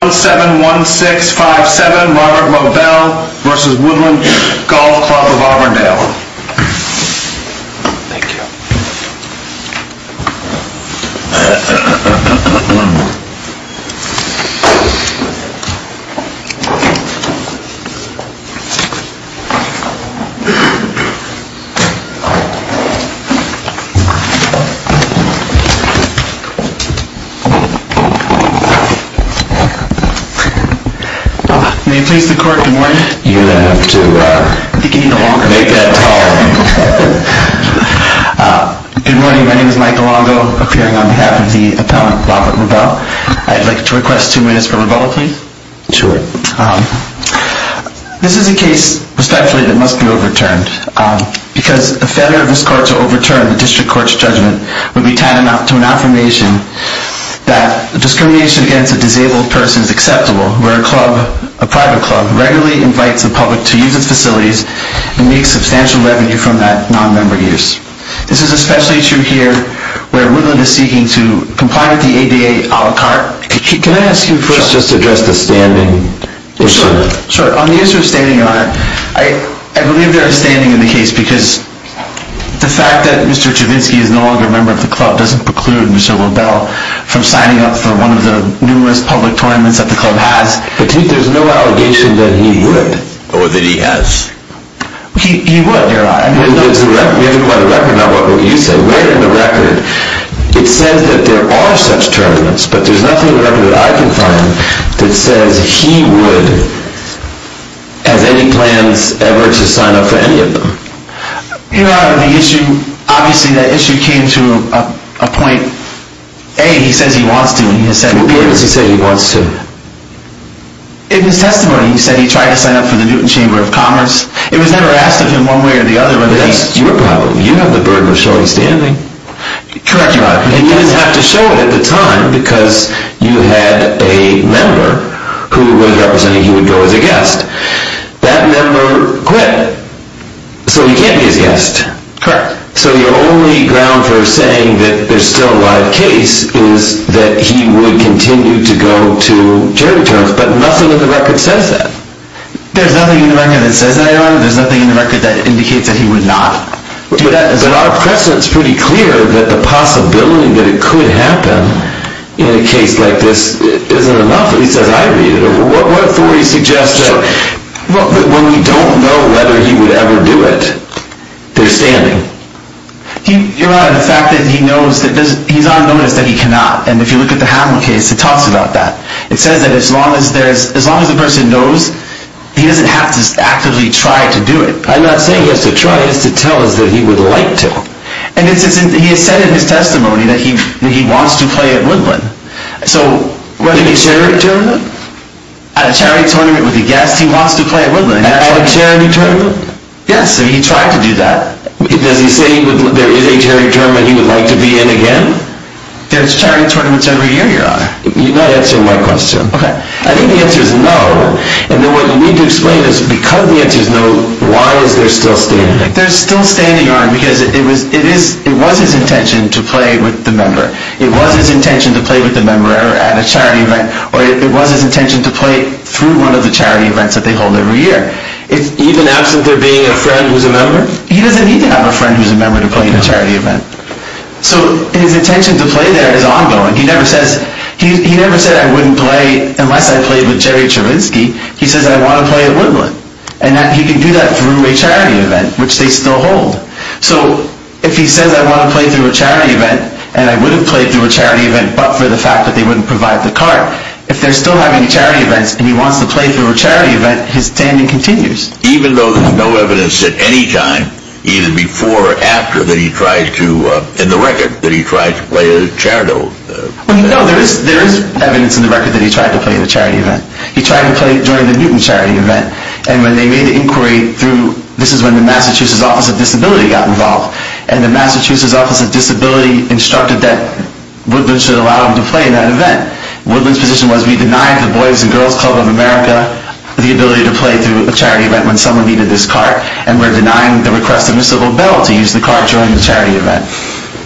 171657 Robert Lobel v. Woodland Golf Club of Auburndale Good morning, my name is Michael Longo, appearing on behalf of the appellant Robert Lobel. I'd like to request two minutes for Lobel, please. This is a case, respectfully, that must be overturned because a failure of this court to overturn the district court's judgment would be tied to an affirmation that discrimination against a disabled person is acceptable, where a private club regularly invites the public to use its facilities and makes substantial revenue from that non-member use. This is especially true here, where Woodland is seeking to comply with the ADA a la carte. Can I ask you first just to address the standing issue? Sure, on the issue of standing on it, I believe there is standing in the case because the fact that Mr. Chivinsky is no longer a member of the club doesn't preclude Mr. Lobel from signing up for one of the numerous public tournaments that the club has. But there's no allegation that he would, or that he has? He would, Your Honor. We have to go by the record, not what you say. Where in the record, it says that there are such tournaments, but there's nothing in the record that I can find that says he would, has any plans ever to sign up for any of them? Your Honor, the issue, obviously that issue came to a point, A, he says he wants to, and he has said he will. What is he saying he wants to? In his testimony, he said he tried to sign up for the Newton Chamber of Commerce. It was never asked of him one way or the other. That's your problem. You have the burden of showing standing. Correct, Your Honor. And you didn't have to show it at the time because you had a member who was representing he would go as a guest. That member quit, so he can't be his guest. Correct. So your only ground for saying that there's still a live case is that he would continue to go to charity tournaments, but nothing in the record says that. There's nothing in the record that says that, Your Honor. There's nothing in the record that indicates that he would not do that. But our precedent is pretty clear that the possibility that it could happen in a case like this isn't enough, at least as I read it. What authority suggests that when we don't know whether he would ever do it, they're standing? Your Honor, the fact that he knows, he's on notice that he cannot, and if you look at the Hamilton case, it talks about that. It says that as long as the person knows, he doesn't have to actively try to do it. I'm not saying he has to try, it's to tell us that he would like to. And he has said in his testimony that he wants to play at Woodland. At a charity tournament? At a charity tournament with a guest, he wants to play at Woodland. At a charity tournament? Yes, he tried to do that. Does he say there is a charity tournament he would like to be in again? There's charity tournaments every year, Your Honor. You're not answering my question. I think the answer is no, and then what you need to explain is because the answer is no, why is there still standing? There's still standing, Your Honor, because it was his intention to play with the member. It was his intention to play with the member at a charity event, or it was his intention to play through one of the charity events that they hold every year. Even absent there being a friend who's a member? He doesn't need to have a friend who's a member to play at a charity event. So his intention to play there is ongoing. He never says, he never said I wouldn't play unless I played with Jerry Trubinsky. He says I want to play at Woodland, and he can do that through a charity event, which they still hold. So if he says I want to play through a charity event, and I would have played through a charity event but for the fact that they wouldn't provide the cart, if they're still having charity events and he wants to play through a charity event, his standing continues. Even though there's no evidence at any time, either before or after, that he tried to, in the record, that he tried to play at a charity event? No, there is evidence in the record that he tried to play at a charity event. He tried to play during the Newton charity event, and when they made the inquiry through, this is when the Massachusetts Office of Disability got involved, and the Massachusetts Office of Disability instructed that Woodland should allow him to play in that event. Woodland's position was, we denied the Boys and Girls Club of America the ability to play through a charity event when someone needed this cart, and we're denying the request of the civil bill to use the cart during the charity event.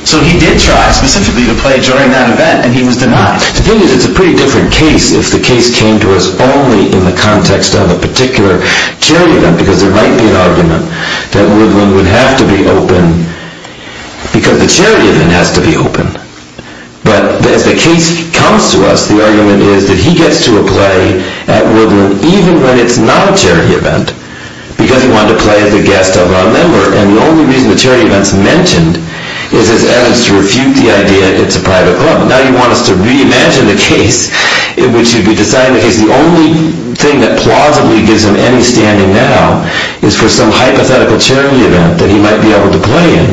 So he did try specifically to play during that event, and he was denied. The thing is, it's a pretty different case if the case came to us only in the context of a particular charity event, because there might be an argument that Woodland would have to be open because the charity event has to be open. But as the case comes to us, the argument is that he gets to play at Woodland even when it's not a charity event, because he wanted to play as a guest of our member, and the only reason the charity event is mentioned is as evidence to refute the idea that it's a private club. Now you want us to reimagine the case in which it would be decided that the only thing that plausibly gives him any standing now is for some hypothetical charity event that he might be able to play in.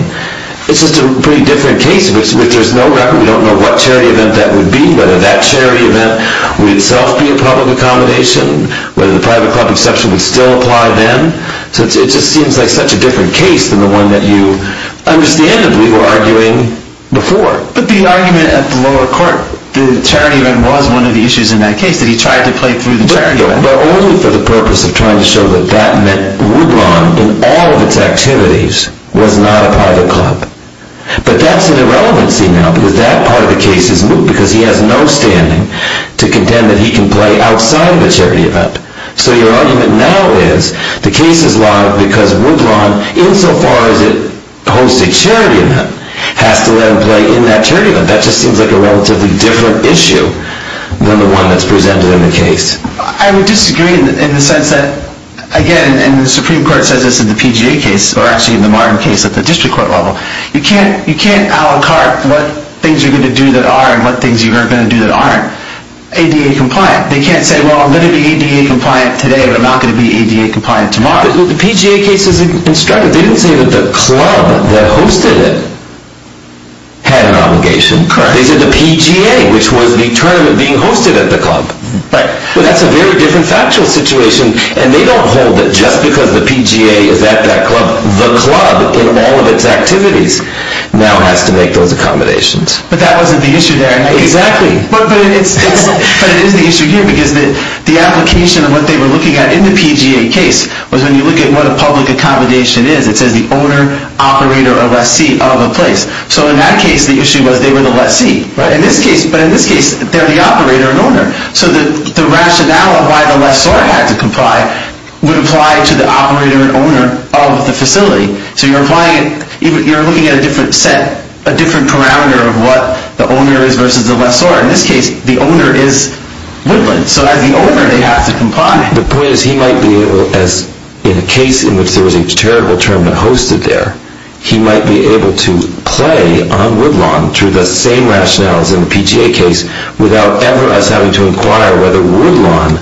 It's just a pretty different case in which there's no record. We don't know what charity event that would be, whether that charity event would itself be a public accommodation, whether the private club exception would still apply then. So it just seems like such a different case than the one that you understandably were arguing before. But the argument at the lower court, the charity event was one of the issues in that case, that he tried to play through the charity event. But only for the purpose of trying to show that that meant Woodland, in all of its activities, was not a private club. But that's an irrelevancy now, because that part of the case is moot, because he has no standing to contend that he can play outside of a charity event. So your argument now is, the case is lodged because Woodland, insofar as it hosts a charity event, has to let him play in that charity event. That just seems like a relatively different issue than the one that's presented in the case. I would disagree in the sense that, again, and the Supreme Court says this in the PGA case, or actually in the Martin case at the district court level, you can't a la carte what things you're going to do that are and what things you aren't going to do that aren't ADA compliant. They can't say, well, I'm going to be ADA compliant today, but I'm not going to be ADA compliant tomorrow. But the PGA case is instructive. They didn't say that the club that hosted it had an obligation. They said the PGA, which was the tournament being hosted at the club. But that's a very different factual situation, and they don't hold it just because the PGA is at that club. The club, in all of its activities, now has to make those accommodations. But that wasn't the issue there. Exactly. But it is the issue here, because the application of what they were looking at in the PGA case was when you look at what a public accommodation is, it says the owner, operator, or lessee of a place. So in that case, the issue was they were the lessee. But in this case, they're the operator and owner. So the rationale of why the lessor had to comply would apply to the operator and owner of the facility. So you're looking at a different set, a different parameter of what the owner is versus the lessor. In this case, the owner is Woodland. So as the owner, they have to comply. The point is he might be able, in a case in which there was a terrible tournament hosted there, he might be able to play on Woodland through the same rationale as in the PGA case without ever us having to inquire whether Woodland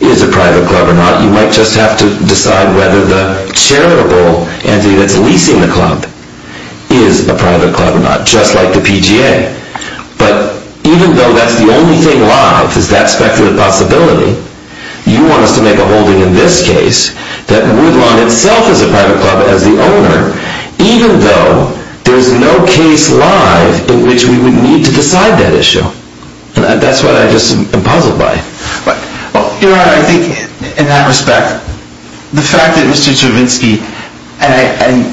is a private club or not. You might just have to decide whether the charitable entity that's leasing the club is a private club or not, just like the PGA. But even though that's the only thing live, is that speculative possibility, you want us to make a holding in this case that Woodland itself is a private club as the owner, even though there's no case live in which we would need to decide that issue. That's what I just am puzzled by. You're right. I think in that respect, the fact that Mr. Stravinsky, and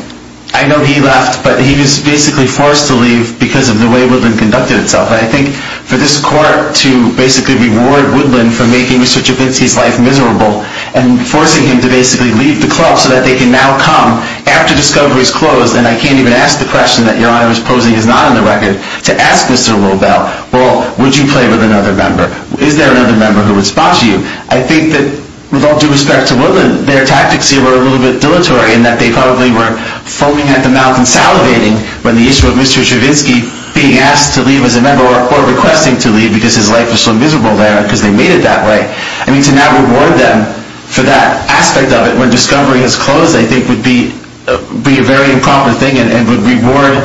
I know he left, but he was basically forced to leave because of the way Woodland conducted itself. I think for this court to basically reward Woodland for making Mr. Stravinsky's life miserable and forcing him to basically leave the club so that they can now come after discovery is closed, and I can't even ask the question that Your Honor is posing is not on the record, to ask Mr. Robel, well, would you play with another member? Is there another member who would spot you? I think that with all due respect to Woodland, their tactics here were a little bit dilatory in that they probably were foaming at the mouth and salivating when the issue of Mr. Stravinsky being asked to leave as a member or a court requesting to leave because his life was so miserable there because they made it that way. I mean, to now reward them for that aspect of it when discovery is closed, I think, would be a very improper thing and would reward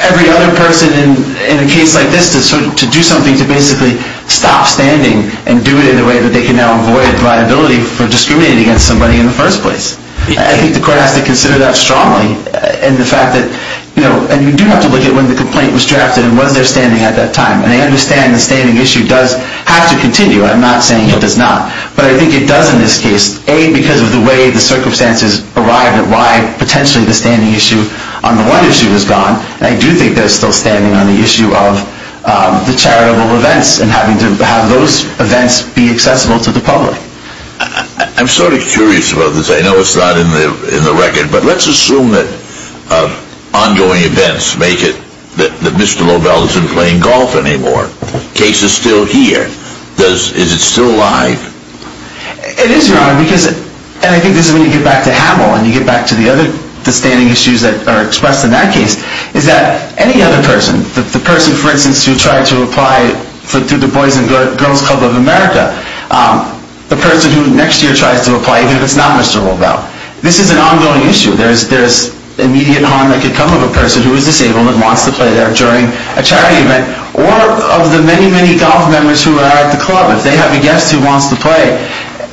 every other person in a case like this to do something to basically stop standing and do it in a way that they can now avoid liability for discriminating against somebody in the first place. I think the court has to consider that strongly and the fact that, you know, and you do have to look at when the complaint was drafted and was there standing at that time, and I understand the standing issue does have to continue. I'm not saying it does not, but I think it does in this case, A, because of the way the circumstances arrived and why potentially the standing issue on the one issue is gone, and I do think there's still standing on the issue of the charitable events and having to have those events be accessible to the public. I'm sort of curious about this. I know it's not in the record, but let's assume that ongoing events make it that Mr. Lobel isn't playing golf anymore. The case is still here. Is it still alive? It is, Your Honor, because, and I think this is when you get back to Hamill and you get back to the other standing issues that are expressed in that case, is that any other person, the person, for instance, who tried to apply to the Boys and Girls Club of America, the person who next year tries to apply who is not Mr. Lobel, this is an ongoing issue. There's immediate harm that could come of a person who is disabled and wants to play there during a charity event, or of the many, many golf members who are at the club. If they have a guest who wants to play,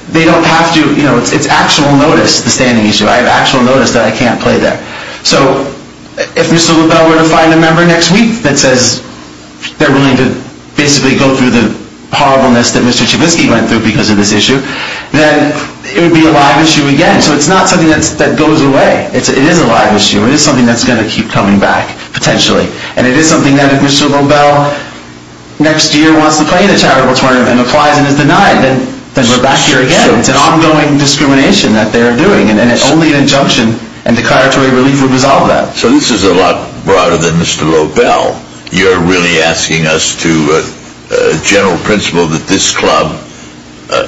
they don't have to, you know, it's actual notice, the standing issue. I have actual notice that I can't play there. So if Mr. Lobel were to find a member next week that says they're willing to basically go through the horribleness that Mr. Chavisky went through because of this issue, then it would be a live issue again. So it's not something that goes away. It is a live issue. It is something that's going to keep coming back, potentially. And it is something that if Mr. Lobel next year wants to play in a charitable tournament and applies and is denied, then we're back here again. It's an ongoing discrimination that they're doing, and only an injunction and declaratory relief would resolve that. So this is a lot broader than Mr. Lobel. You're really asking us to general principle that this club,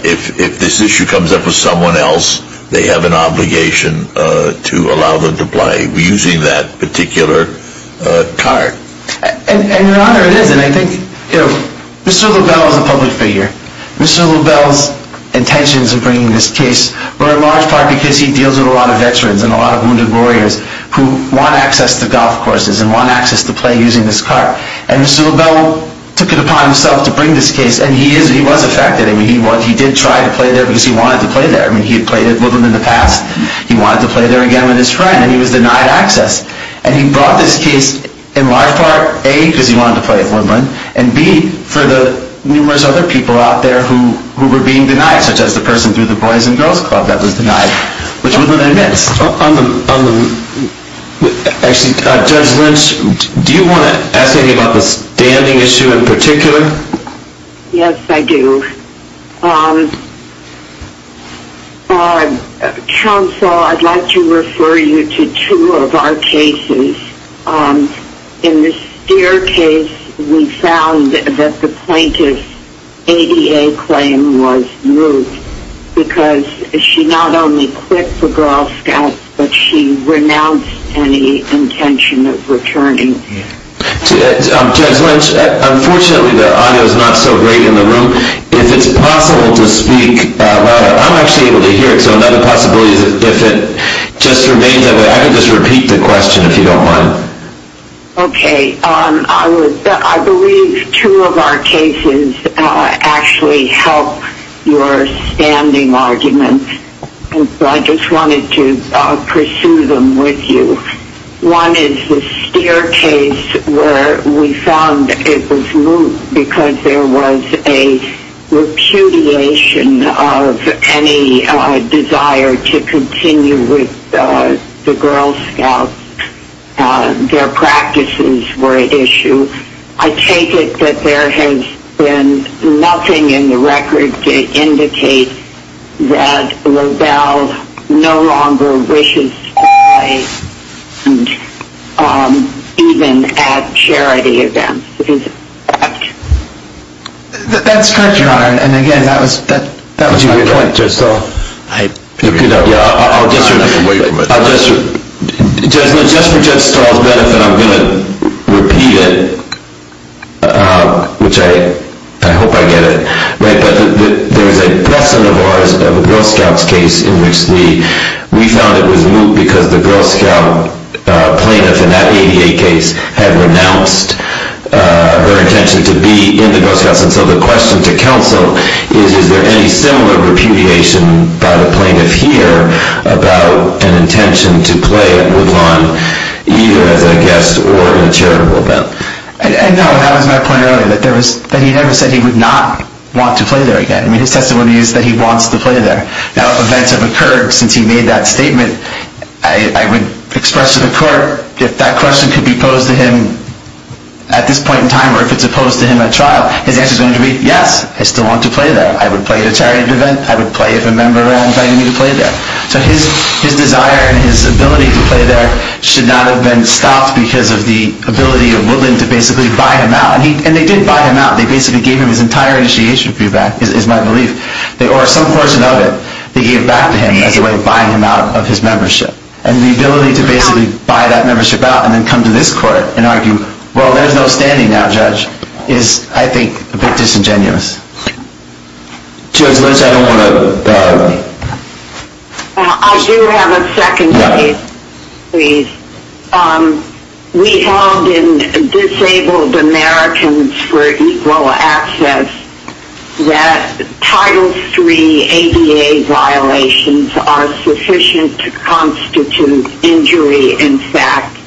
if this issue comes up with someone else, they have an obligation to allow them to play using that particular card. And, Your Honor, it is. And I think, you know, Mr. Lobel is a public figure. Mr. Lobel's intentions in bringing this case were in large part because he deals with a lot of veterans and a lot of wounded warriors who want access to golf courses and want access to play using this card. And Mr. Lobel took it upon himself to bring this case, and he was affected. I mean, he did try to play there because he wanted to play there. I mean, he had played at Woodland in the past. He wanted to play there again with his friend, and he was denied access. And he brought this case in large part, A, because he wanted to play at Woodland, and B, for the numerous other people out there who were being denied, such as the person through the Boys and Girls Club that was denied, which Woodland admits. Actually, Judge Lynch, do you want to ask anything about the standing issue in particular? Yes, I do. Counsel, I'd like to refer you to two of our cases. In the Steer case, we found that the plaintiff's ADA claim was moot because she not only quit the Girl Scouts, but she renounced any intention of returning. Judge Lynch, unfortunately the audio is not so great in the room. If it's possible to speak louder, I'm actually able to hear it, so another possibility is if it just remains that way. I can just repeat the question if you don't mind. Okay. I believe two of our cases actually help your standing argument, so I just wanted to pursue them with you. One is the Steer case where we found it was moot because there was a repudiation of any desire to continue with the Girl Scouts. Their practices were at issue. I take it that there has been nothing in the record to indicate that LaBelle no longer wishes to play, even at charity events. Is that correct? That's correct, Your Honor, and again, that was my point, Judge Stahl. I'll get you away from it. Just for Judge Stahl's benefit, I'm going to repeat it, which I hope I get it. There was a lesson of ours of the Girl Scouts case in which we found it was moot because the Girl Scout plaintiff in that 88 case had renounced her intention to be in the Girl Scouts, and so the question to counsel is, is there any similar repudiation by the plaintiff here about an intention to play at Woodlawn, either as a guest or in a charitable event? No, that was my point earlier, that he never said he would not want to play there again. I mean, his testimony is that he wants to play there. Now, if events have occurred since he made that statement, I would express to the court, if that question could be posed to him at this point in time or if it's opposed to him at trial, his answer is going to be, yes, I still want to play there. I would play at a charitable event. I would play if a member invited me to play there. So his desire and his ability to play there should not have been stopped because of the ability of Woodlawn to basically buy him out, and they did buy him out. They basically gave him his entire initiation fee back, is my belief, or some portion of it. They gave it back to him as a way of buying him out of his membership. And the ability to basically buy that membership out and then come to this court and argue, well, there's no standing now, Judge, is, I think, a bit disingenuous. Judge Lynch, I don't want to... I do have a second case, please. We held in Disabled Americans for Equal Access that Title III ADA violations are sufficient to constitute injury in fact.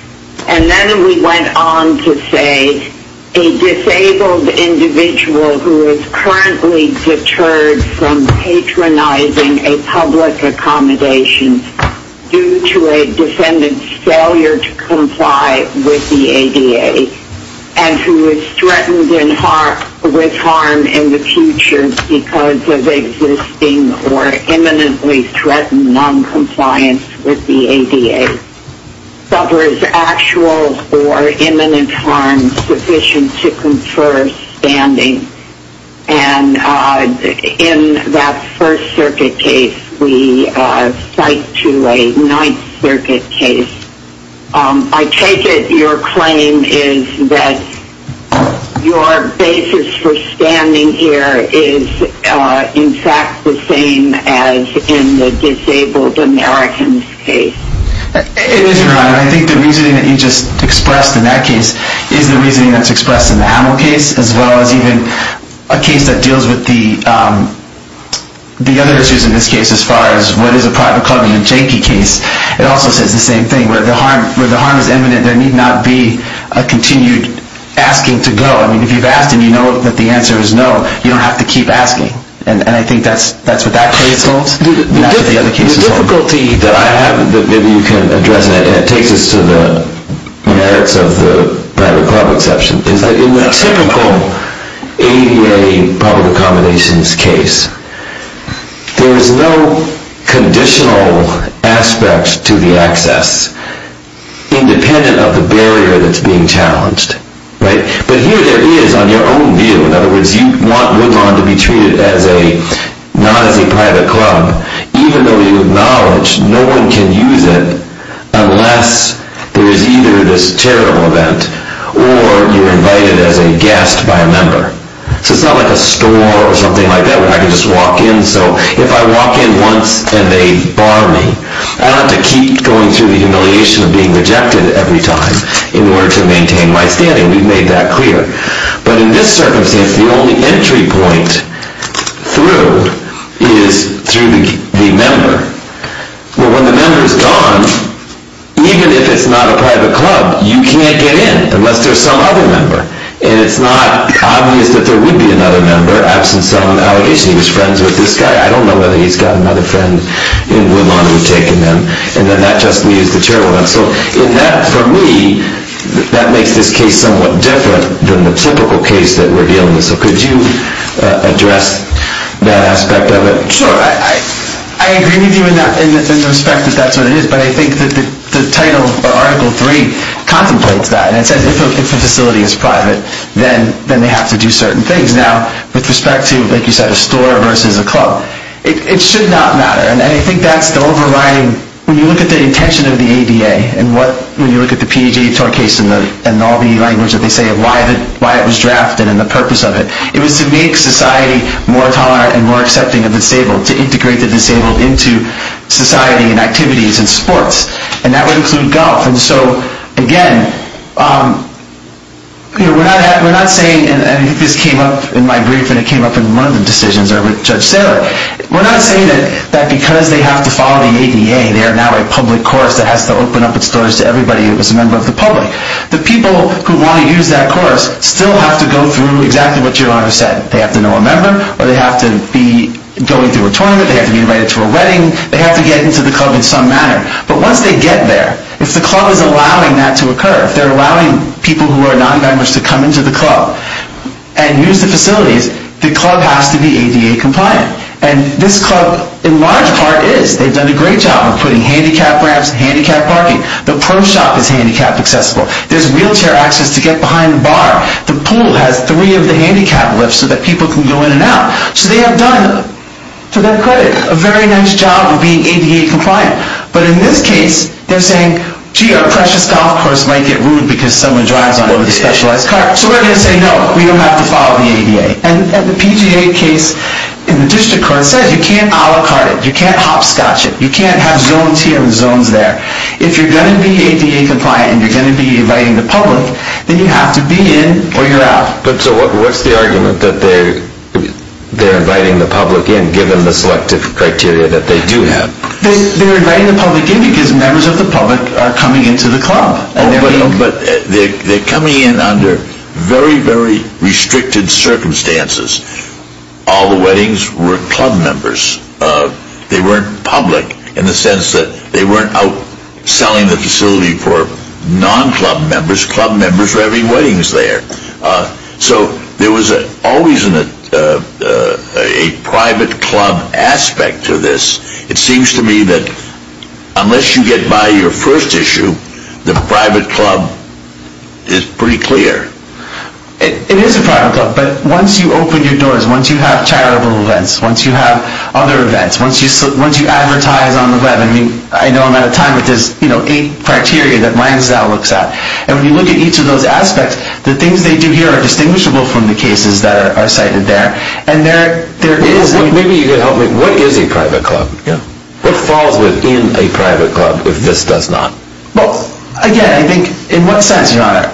And then we went on to say a disabled individual who is currently deterred from patronizing a public accommodation due to a defendant's failure to comply with the ADA and who is threatened with harm in the future because of existing or imminently threatened noncompliance with the ADA suffers actual or imminent harm and is sufficient to confer standing. And in that First Circuit case, we cite to a Ninth Circuit case. I take it your claim is that your basis for standing here is, in fact, the same as in the Disabled Americans case. It is, Your Honor. I think the reasoning that you just expressed in that case is the reasoning that's expressed in the Hamill case as well as even a case that deals with the other issues in this case as far as what is a private club in the Jenke case. It also says the same thing, where the harm is imminent, there need not be a continued asking to go. I mean, if you've asked and you know that the answer is no, you don't have to keep asking. And I think that's what that case holds. The difficulty that I have that maybe you can address, and it takes us to the merits of the private club exception, is that in the typical ADA public accommodations case, there is no conditional aspect to the access independent of the barrier that's being challenged. But here there is on your own view. In other words, you want Woodlawn to be treated not as a private club, even though you acknowledge no one can use it unless there is either this charitable event or you're invited as a guest by a member. So it's not like a store or something like that where I can just walk in. So if I walk in once and they bar me, I don't have to keep going through the humiliation of being rejected every time in order to maintain my standing. We've made that clear. But in this circumstance, the only entry point through is through the member. Well, when the member is gone, even if it's not a private club, you can't get in unless there's some other member. And it's not obvious that there would be another member absent some allegation. He was friends with this guy. I don't know whether he's got another friend in Woodlawn who's taken him. And then that just means the charitable event. So for me, that makes this case somewhat different than the typical case that we're dealing with. So could you address that aspect of it? Sure. I agree with you in the respect that that's what it is. But I think that the title of Article 3 contemplates that. And it says if a facility is private, then they have to do certain things. Now, with respect to, like you said, a store versus a club, it should not matter. And I think that's the overriding, when you look at the intention of the ADA, and when you look at the P.E.J. Torr case and all the language that they say of why it was drafted and the purpose of it, it was to make society more tolerant and more accepting of the disabled, to integrate the disabled into society and activities and sports. And that would include golf. And so, again, we're not saying, and I think this came up in my brief, and it came up in one of the decisions over with Judge Sailor, we're not saying that because they have to follow the ADA, they are now a public course that has to open up its doors to everybody who is a member of the public. The people who want to use that course still have to go through exactly what your Honor said. They have to know a member, or they have to be going through a tournament, they have to be invited to a wedding, they have to get into the club in some manner. But once they get there, if the club is allowing that to occur, if they're allowing people who are non-members to come into the club and use the facilities, the club has to be ADA compliant. And this club, in large part, is. They've done a great job of putting handicapped ramps, handicapped parking. The pro shop is handicapped accessible. There's wheelchair access to get behind the bar. The pool has three of the handicapped lifts so that people can go in and out. So they have done, to their credit, a very nice job of being ADA compliant. But in this case, they're saying, gee, our precious golf course might get ruined because someone drives on it with a specialized car. So we're going to say, no, we don't have to follow the ADA. And the PGA case in the district court says you can't a la carte it. You can't hopscotch it. You can't have zones here and zones there. If you're going to be ADA compliant and you're going to be inviting the public, then you have to be in or you're out. But so what's the argument that they're inviting the public in, given the selective criteria that they do have? They're inviting the public in because members of the public are coming into the club. They're coming in under very, very restricted circumstances. All the weddings were club members. They weren't public in the sense that they weren't out selling the facility for non-club members. Club members were having weddings there. So there was always a private club aspect to this. It seems to me that unless you get by your first issue, the private club is pretty clear. It is a private club. But once you open your doors, once you have charitable events, once you have other events, once you advertise on the web, I mean, I know I'm out of time, but there's eight criteria that Minds Now looks at. And when you look at each of those aspects, the things they do here are distinguishable from the cases that are cited there. Maybe you could help me. What is a private club? What falls within a private club if this does not? Well, again, I think, in what sense, Your Honor?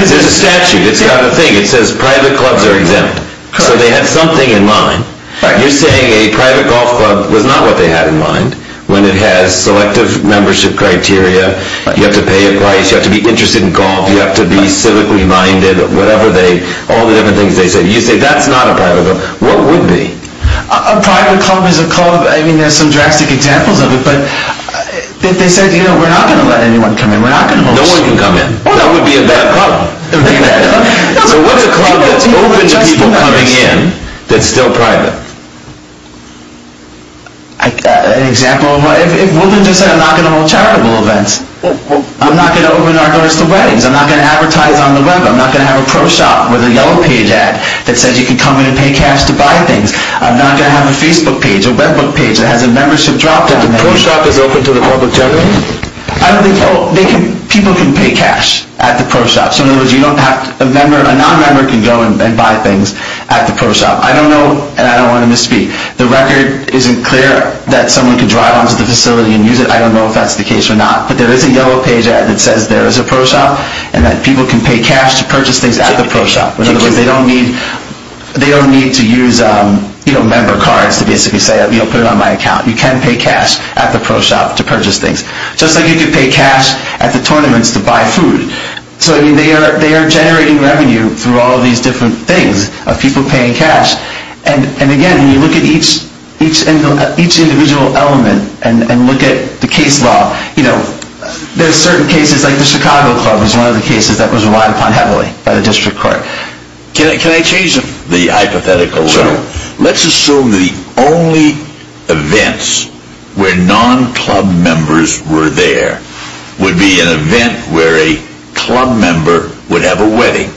There's a statute. It's got a thing. It says private clubs are exempt. So they had something in mind. You're saying a private golf club was not what they had in mind when it has selective membership criteria, you have to pay a price, you have to be interested in golf, you have to be civically minded, whatever they, all the different things they said. You say that's not a private club. What would be? A private club is a club, I mean, there's some drastic examples of it, but if they said, you know, we're not going to let anyone come in, we're not going to host. No one can come in. That would be a bad club. It would be a bad club. So what's a club that's open to people coming in that's still private? An example of what? If Wilton just said, I'm not going to hold charitable events, I'm not going to open our doors to weddings, I'm not going to advertise on the web, I'm not going to have a pro shop with a yellow page ad that says you can come in and pay caps to buy things, I'm not going to have a Facebook page, a web book page that has a membership drop-down. The pro shop is open to the public generally? I don't think so. People can pay cash at the pro shop. So in other words, a non-member can go and buy things at the pro shop. I don't know, and I don't want to misspeak, the record isn't clear that someone can drive onto the facility and use it. I don't know if that's the case or not, but there is a yellow page ad that says there is a pro shop and that people can pay cash to purchase things at the pro shop. In other words, they don't need to use, you know, member cards to basically say put it on my account. You can pay cash at the pro shop to purchase things. Just like you can pay cash at the tournaments to buy food. So they are generating revenue through all these different things, of people paying cash. And again, when you look at each individual element and look at the case law, you know, there are certain cases like the Chicago club is one of the cases that was relied upon heavily by the district court. Can I change the hypothetical a little? Let's assume the only events where non-club members were there would be an event where a club member would have a wedding.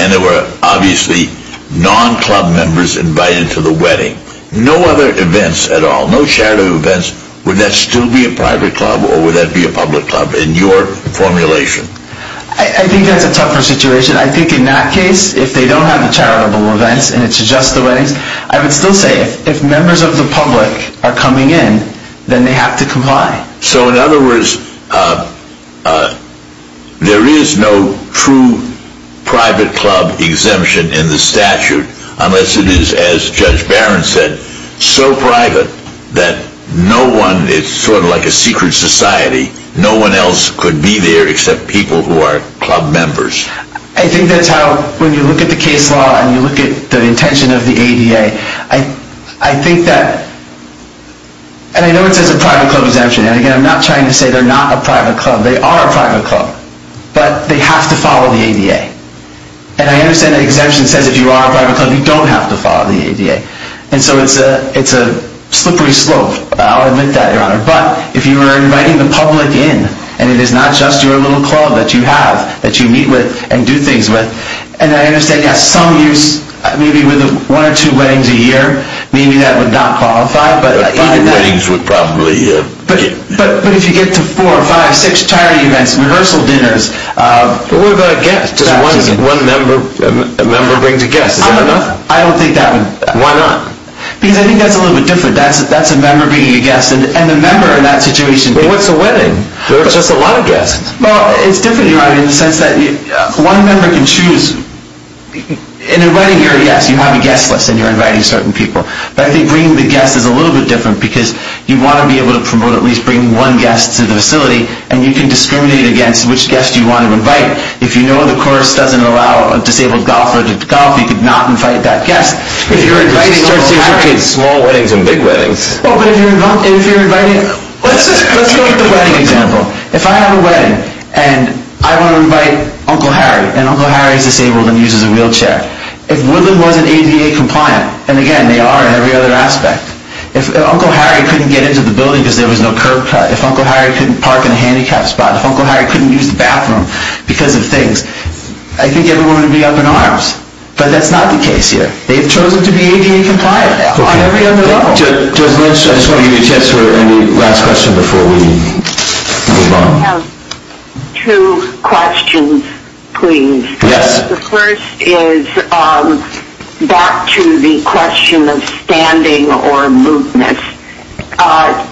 And there were obviously non-club members invited to the wedding. No other events at all, no charitable events, would that still be a private club or would that be a public club in your formulation? I think that's a tougher situation. I think in that case, if they don't have the charitable events and it's just the weddings, I would still say if members of the public are coming in, then they have to comply. So in other words, there is no true private club exemption in the statute unless it is, as Judge Barron said, so private that no one, it's sort of like a secret society, no one else could be there except people who are club members. I think that's how, when you look at the case law and you look at the intention of the ADA, I think that, and I know it says a private club exemption, and again, I'm not trying to say they're not a private club. They are a private club, but they have to follow the ADA. And I understand the exemption says if you are a private club, you don't have to follow the ADA. And so it's a slippery slope. I'll admit that, Your Honor. But if you were inviting the public in, and it is not just your little club that you have, that you meet with and do things with, and I understand you have some use, maybe with one or two weddings a year, maybe that would not qualify. But even weddings would probably... But if you get to four or five, six charity events, rehearsal dinners... But what about a guest? Does one member bring a guest? I don't think that would... Why not? Because I think that's a little bit different. That's a member bringing a guest, and the member in that situation... But what's a wedding? There's just a lot of guests. Well, it's different, Your Honor, in the sense that one member can choose... In a wedding year, yes, you have a guest list, and you're inviting certain people. But I think bringing the guest is a little bit different, because you want to be able to promote at least bringing one guest to the facility, and you can discriminate against which guest you want to invite. If you know the course doesn't allow disabled golfers to golf, you could not invite that guest. If you're inviting all the parents... It's just associated with small weddings and big weddings. Well, but if you're inviting... Let's go with the wedding example. If I have a wedding, and I want to invite Uncle Harry, and Uncle Harry is disabled and uses a wheelchair, if Woodland wasn't ADA compliant, and again, they are in every other aspect, if Uncle Harry couldn't get into the building because there was no curb cut, if Uncle Harry couldn't park in a handicapped spot, if Uncle Harry couldn't use the bathroom because of things, I think everyone would be up in arms. But that's not the case here. They've chosen to be ADA compliant on every other level. Judge Lynch, I just want to give you a chance for any last question before we move on. I have two questions, please. Yes. The first is back to the question of standing or movement.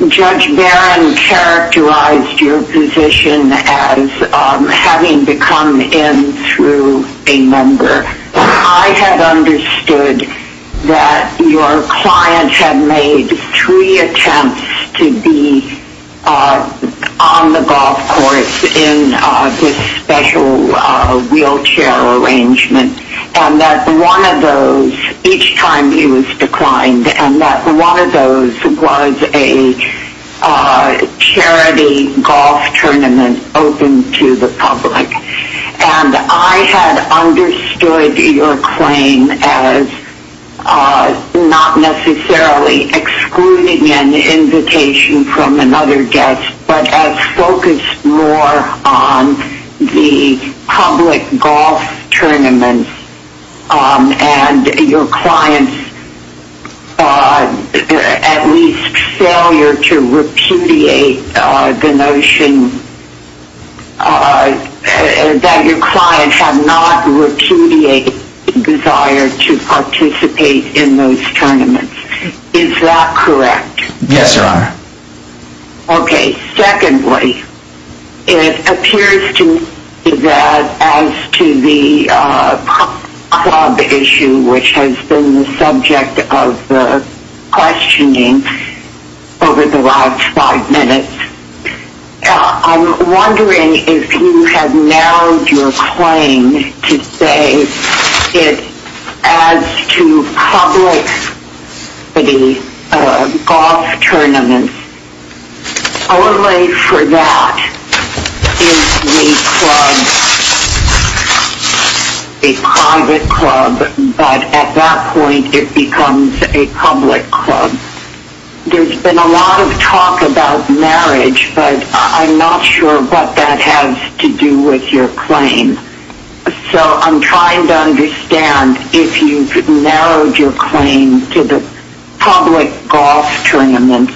Judge Barron characterized your position as having to come in through a member. I had understood that your client had made three attempts to be on the golf course in this special wheelchair arrangement, and that one of those, each time he was declined, and that one of those was a charity golf tournament open to the public. And I had understood your claim as not necessarily excluding an invitation from another guest, but as focused more on the public golf tournament and your client's at least failure to repudiate the notion that your client had not repudiated the desire to participate in those tournaments. Is that correct? Yes, Your Honor. Okay. Secondly, it appears to me that as to the club issue, which has been the subject of questioning over the last five minutes, I'm wondering if you have narrowed your claim to say that as to public golf tournaments, only for that is the club a private club, but at that point it becomes a public club. There's been a lot of talk about marriage, but I'm not sure what that has to do with your claim. So I'm trying to understand if you've narrowed your claim to the public golf tournaments,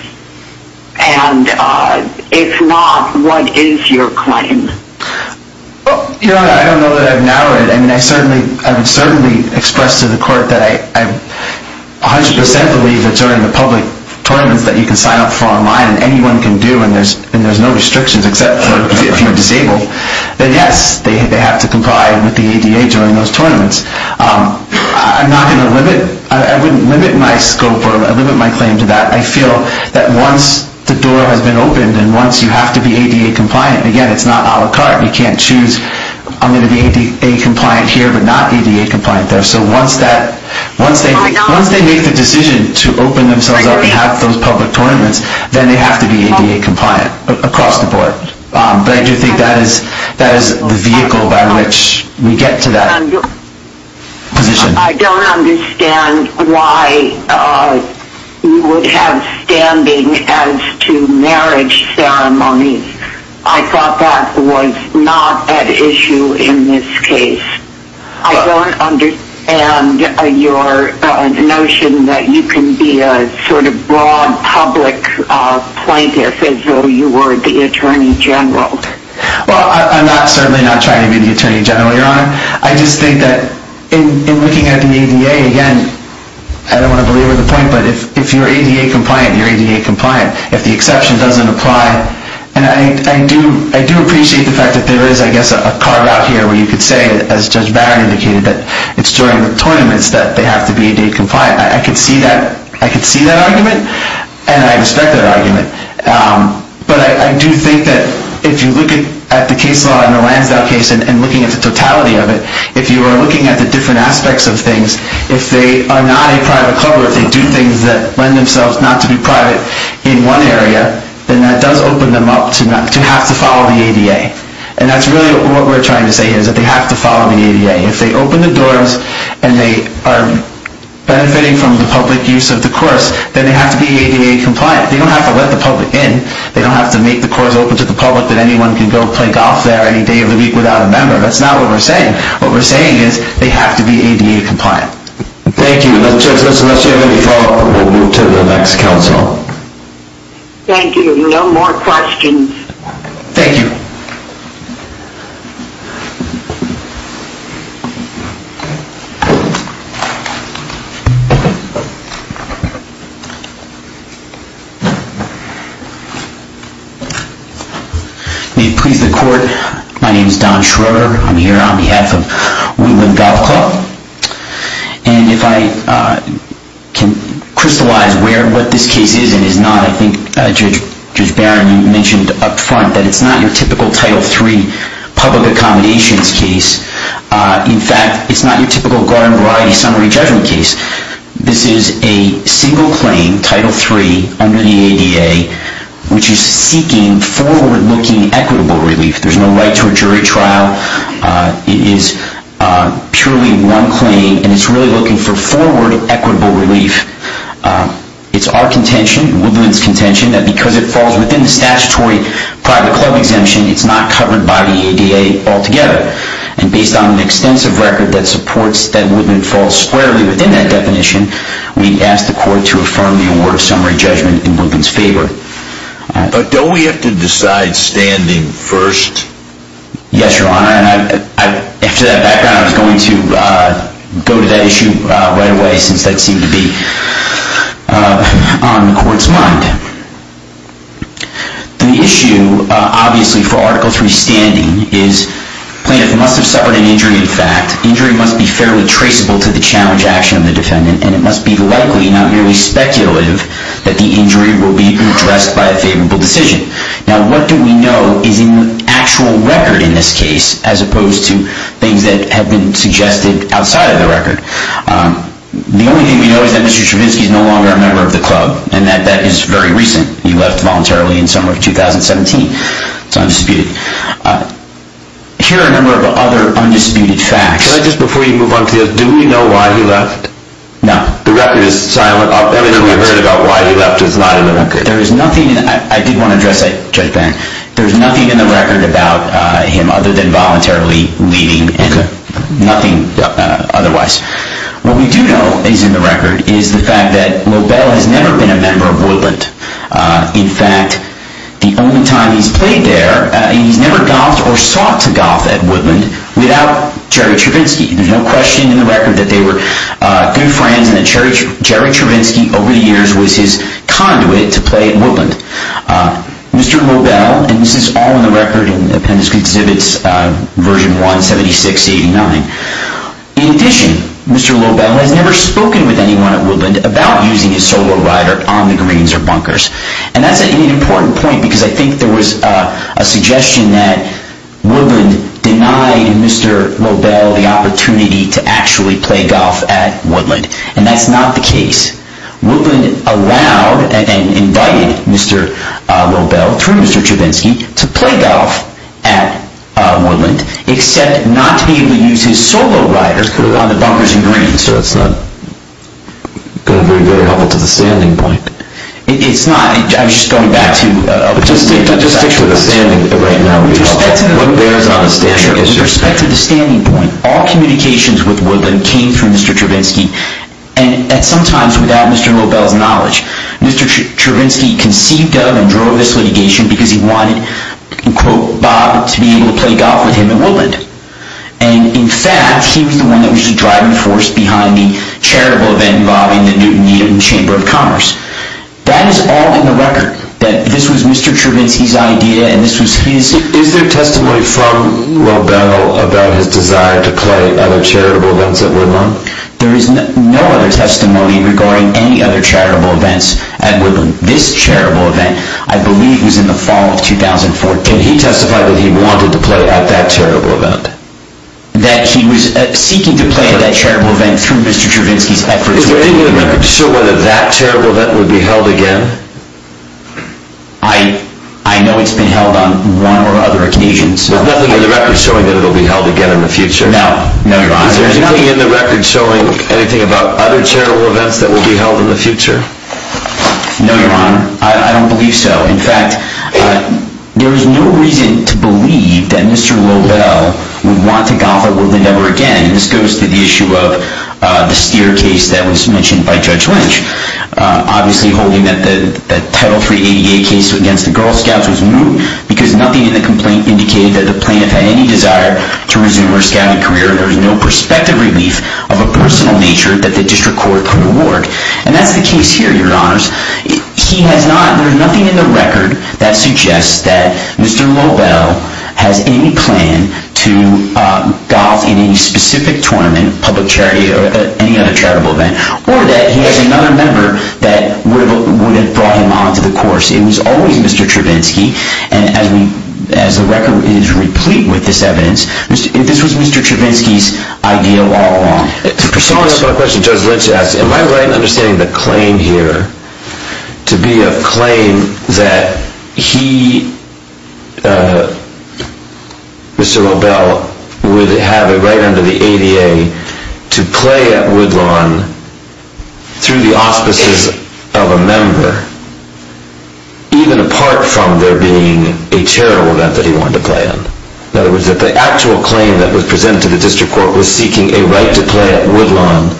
and if not, what is your claim? Your Honor, I don't know that I've narrowed it. I mean, I would certainly express to the court that I 100 percent believe that during the public tournaments that you can sign up for online and anyone can do, then yes, they have to comply with the ADA during those tournaments. I wouldn't limit my scope or limit my claim to that. I feel that once the door has been opened and once you have to be ADA compliant, again, it's not a la carte. You can't choose, I'm going to be ADA compliant here but not ADA compliant there. So once they make the decision to open themselves up and have those public tournaments, then they have to be ADA compliant across the board. But I do think that is the vehicle by which we get to that position. I don't understand why you would have standing as to marriage ceremonies. I thought that was not at issue in this case. I don't understand your notion that you can be a sort of broad public plaintiff as though you were the Attorney General. Well, I'm certainly not trying to be the Attorney General, Your Honor. I just think that in looking at the ADA, again, I don't want to belabor the point, but if you're ADA compliant, you're ADA compliant. If the exception doesn't apply, and I do appreciate the fact that there is, I guess, a carve-out here where you could say, as Judge Barrett indicated, that it's during the tournaments that they have to be ADA compliant. I could see that argument, and I respect that argument. But I do think that if you look at the case law in the Lansdow case and looking at the totality of it, if you are looking at the different aspects of things, if they are not a private club or if they do things that lend themselves not to be private in one area, then that does open them up to have to follow the ADA. And that's really what we're trying to say here is that they have to follow the ADA. If they open the doors and they are benefiting from the public use of the course, then they have to be ADA compliant. They don't have to let the public in. They don't have to make the course open to the public that anyone can go play golf there any day of the week without a member. That's not what we're saying. What we're saying is they have to be ADA compliant. Thank you. Unless you have any follow-up, we'll move to the next counsel. Thank you. No more questions. Thank you. May it please the Court, my name is Don Schroeder. I'm here on behalf of Wootwood Golf Club. And if I can crystallize what this case is and is not, I think Judge Barron mentioned up front that it's not your typical Title III public accommodations case. In fact, it's not your typical garden variety summary judgment case. This is a single claim, Title III, under the ADA, which is seeking forward-looking equitable relief. There's no right to a jury trial. It is purely one claim, and it's really looking for forward equitable relief. It's our contention, Wootwood's contention, that because it falls within the statutory private club exemption, it's not covered by the ADA altogether. And based on an extensive record that supports that Wootwood falls squarely within that definition, we ask the Court to affirm the award of summary judgment in Wootwood's favor. But don't we have to decide standing first? Yes, Your Honor. After that background, I was going to go to that issue right away since that seemed to be on the Court's mind. The issue, obviously, for Article III standing is plaintiff must have suffered an injury in fact. Injury must be fairly traceable to the challenge action of the defendant, and it must be likely, not merely speculative, that the injury will be addressed by a favorable decision. Now, what do we know is in the actual record in this case as opposed to things that have been suggested outside of the record? The only thing we know is that Mr. Stravinsky is no longer a member of the club, and that that is very recent. He left voluntarily in summer of 2017. It's undisputed. Here are a number of other undisputed facts. Can I just, before you move on to this, do we know why he left? No. The record is silent. Everything we've heard about why he left is not in the record. I did want to address that, Judge Barron. There's nothing in the record about him other than voluntarily leaving and nothing otherwise. What we do know is in the record is the fact that Lobel has never been a member of Woodland. In fact, the only time he's played there, he's never golfed or sought to golf at Woodland without Jerry Stravinsky. There's no question in the record that they were good friends and that Jerry Stravinsky over the years was his conduit to play at Woodland. Mr. Lobel, and this is all in the record in Appendix Exhibits version 176-89. In addition, Mr. Lobel has never spoken with anyone at Woodland about using his solo rider on the greens or bunkers. And that's an important point because I think there was a suggestion that Woodland denied Mr. Lobel the opportunity to actually play golf at Woodland. And that's not the case. Woodland allowed and invited Mr. Lobel, through Mr. Stravinsky, to play golf at Woodland, except not to be able to use his solo riders on the bunkers and greens. So it's not going very well to the standing point. It's not. I'm just going back to... Just stick to the standing right now. With respect to the standing point, all communications with Woodland came through Mr. Stravinsky, and at some times without Mr. Lobel's knowledge. Mr. Stravinsky conceived of and drove this litigation because he wanted, quote, Bob to be able to play golf with him at Woodland. And in fact, he was the one that was the driving force behind the charitable event involving the Newton-Yeaton Chamber of Commerce. That is all in the record. That this was Mr. Stravinsky's idea, and this was his... Is there testimony from Lobel about his desire to play other charitable events at Woodland? There is no other testimony regarding any other charitable events at Woodland. This charitable event, I believe, was in the fall of 2014. Can he testify that he wanted to play at that charitable event? That he was seeking to play at that charitable event through Mr. Stravinsky's efforts... Is there anything in the record showing whether that charitable event would be held again? I know it's been held on one or other occasions. There's nothing in the record showing that it will be held again in the future? No. No, Your Honor. Is there anything in the record showing anything about other charitable events that will be held in the future? No, Your Honor. I don't believe so. In fact, there is no reason to believe that Mr. Lobel would want to golf at Woodland ever again. This goes to the issue of the Steer case that was mentioned by Judge Lynch. Obviously, holding that the Title 3 ADA case against the Girl Scouts was moot... because nothing in the complaint indicated that the plaintiff had any desire to resume her scouting career. There is no prospective relief of a personal nature that the district court could award. And that's the case here, Your Honors. There is nothing in the record that suggests that Mr. Lobel has any plan to golf in any specific tournament, public charity, or any other charitable event... or that he has another member that would have brought him on to the course. It was always Mr. Stravinsky, and as the record is replete with this evidence, this was Mr. Stravinsky's idea all along. In response to my question, Judge Lynch asked, am I right in understanding the claim here to be a claim that he, Mr. Lobel... would have a right under the ADA to play at Woodlawn through the auspices of a member... even apart from there being a charitable event that he wanted to play in? In other words, that the actual claim that was presented to the district court was seeking a right to play at Woodlawn...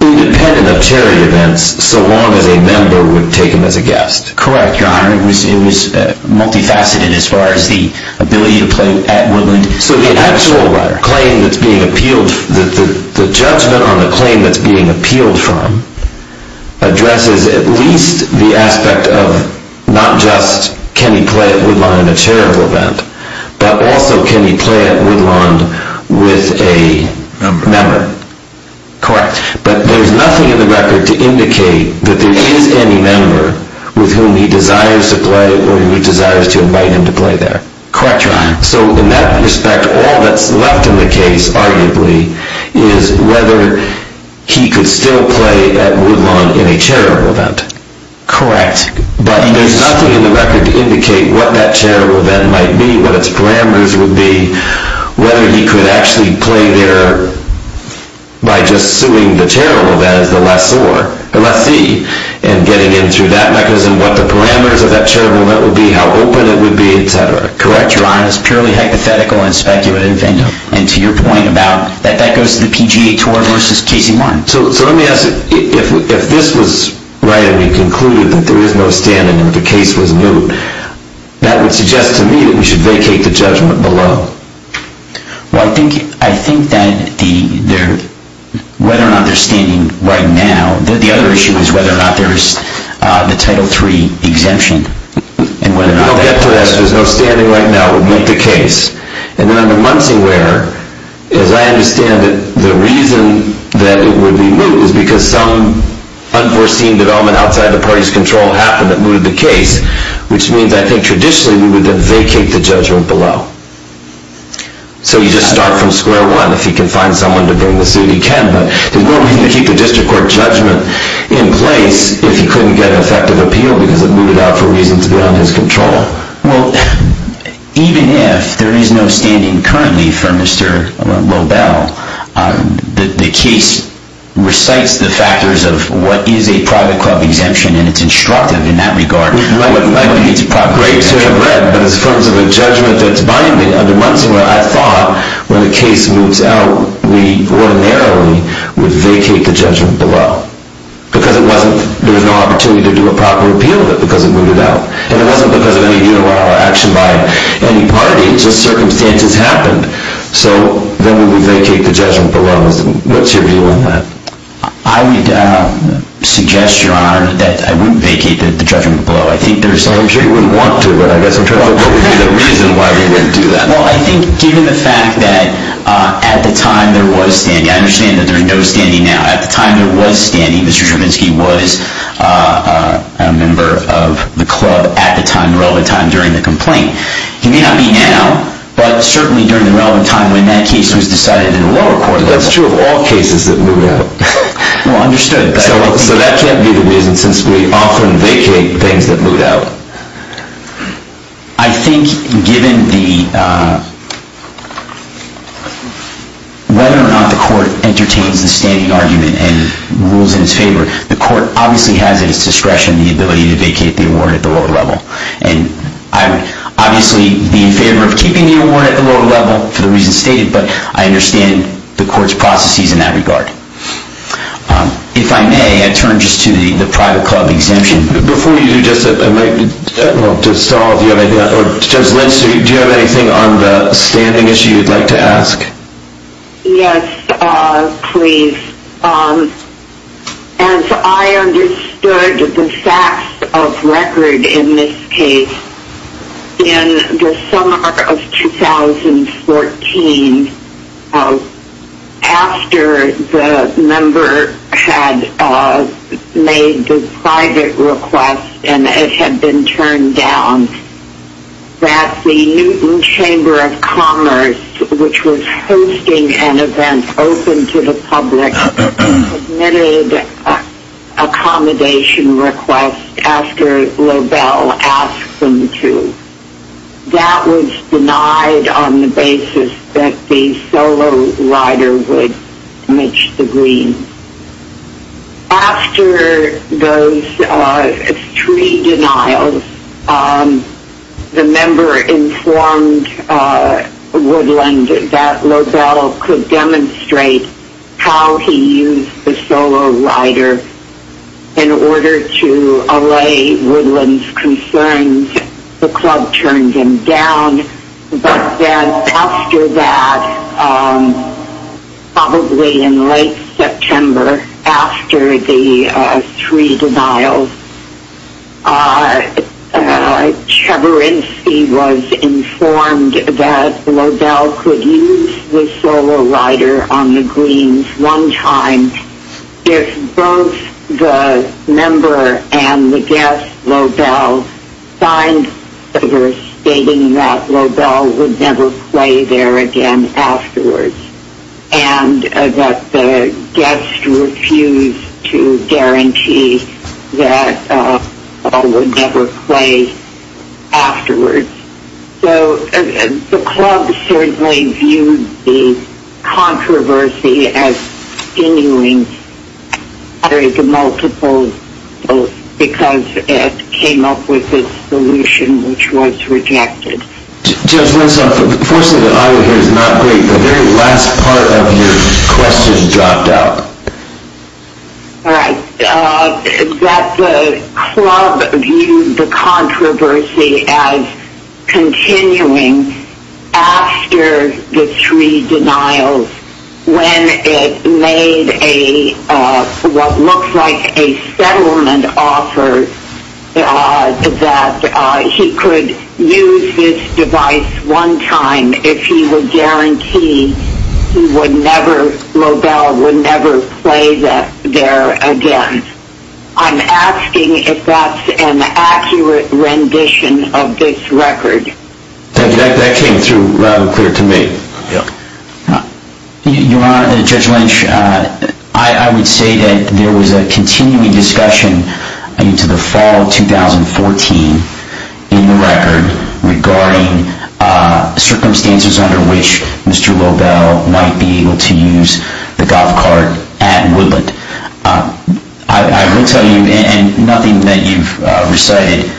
independent of charity events, so long as a member would take him as a guest. Correct, Your Honor. It was multifaceted as far as the ability to play at Woodlawn. So the actual claim that's being appealed, the judgment on the claim that's being appealed from... not just can he play at Woodlawn in a charitable event, but also can he play at Woodlawn with a member? Correct. But there's nothing in the record to indicate that there is any member with whom he desires to play or who he desires to invite him to play there. Correct, Your Honor. So in that respect, all that's left in the case, arguably, is whether he could still play at Woodlawn in a charitable event. Correct. But there's nothing in the record to indicate what that charitable event might be, what its parameters would be, whether he could actually play there by just suing the charitable event as the lessor, the lessee, and getting in through that mechanism, what the parameters of that charitable event would be, how open it would be, etc. Correct, Your Honor. It's purely hypothetical and speculative, and to your point about that that goes to the PGA Tour versus Casey Martin. So let me ask, if this was right and we concluded that there is no standing and the case was moot, that would suggest to me that we should vacate the judgment below. Well, I think that whether or not there's standing right now, the other issue is whether or not there is the Title III exemption. If we don't get to that, if there's no standing right now, it would moot the case. And under Munsingwear, as I understand it, the reason that it would be moot is because some unforeseen development outside the party's control happened that mooted the case, which means I think traditionally we would then vacate the judgment below. So you just start from square one. If he can find someone to bring the suit, he can, but there's no reason to keep the district court judgment in place if he couldn't get an effective appeal because it mooted out for reasons beyond his control. Well, even if there is no standing currently for Mr. Lobel, the case recites the factors of what is a private club exemption, and it's instructive in that regard. It's great to have read, but in terms of a judgment that's binding under Munsingwear, I thought when the case moots out, we ordinarily would vacate the judgment below because there was no opportunity to do a proper appeal because it mooted out. And it wasn't because of any unilateral action by any party. It's just circumstances happened. So then we would vacate the judgment below. What's your view on that? I would suggest, Your Honor, that I wouldn't vacate the judgment below. I'm sure you wouldn't want to, but I guess in terms of what would be the reason why we wouldn't do that. Well, I think given the fact that at the time there was standing, I understand that there's no standing now. At the time there was standing, Mr. Stravinsky was a member of the club at the time, relevant time, during the complaint. He may not be now, but certainly during the relevant time when that case was decided in the lower court level. That's true of all cases that moot out. Well, understood. So that can't be the reason since we often vacate things that moot out. I think given whether or not the court entertains the standing argument and rules in its favor, the court obviously has at its discretion the ability to vacate the award at the lower level. And I would obviously be in favor of keeping the award at the lower level for the reasons stated, but I understand the court's processes in that regard. If I may, I turn just to the private club exemption. Before you do just that, I might, I don't know, to Saul, do you have anything on the standing issue you'd like to ask? Yes, please. As I understood the facts of record in this case, in the summer of 2014, after the member had made the private request and it had been turned down, that the Newton Chamber of Commerce, which was hosting an event open to the public, submitted an accommodation request after Lobel asked them to. That was denied on the basis that the solo rider would match the green. After those three denials, the member informed Woodland that Lobel could demonstrate how he used the solo rider in order to allay Woodland's concerns. The club turned him down. But then after that, probably in late September, after the three denials, Cheburinsky was informed that Lobel could use the solo rider on the greens one time. If both the member and the guest, Lobel, signed a letter stating that Lobel would never play there again afterwards and that the guest refused to guarantee that Lobel would never play afterwards. So the club certainly viewed the controversy as continuing. There is a multiple because it came up with a solution which was rejected. Judge Wentzoff, unfortunately the audio here is not great. The very last part of your question dropped out. All right. That the club viewed the controversy as continuing after the three denials when it made what looked like a settlement offer that he could use this device one time if he would guarantee Lobel would never play there again. I'm asking if that's an accurate rendition of this record. That came through rather clear to me. Your Honor, Judge Lynch, I would say that there was a continuing discussion into the fall of 2014 in the record regarding circumstances under which Mr. Lobel might be able to use the golf cart at Woodland. I will tell you, and nothing that you've recited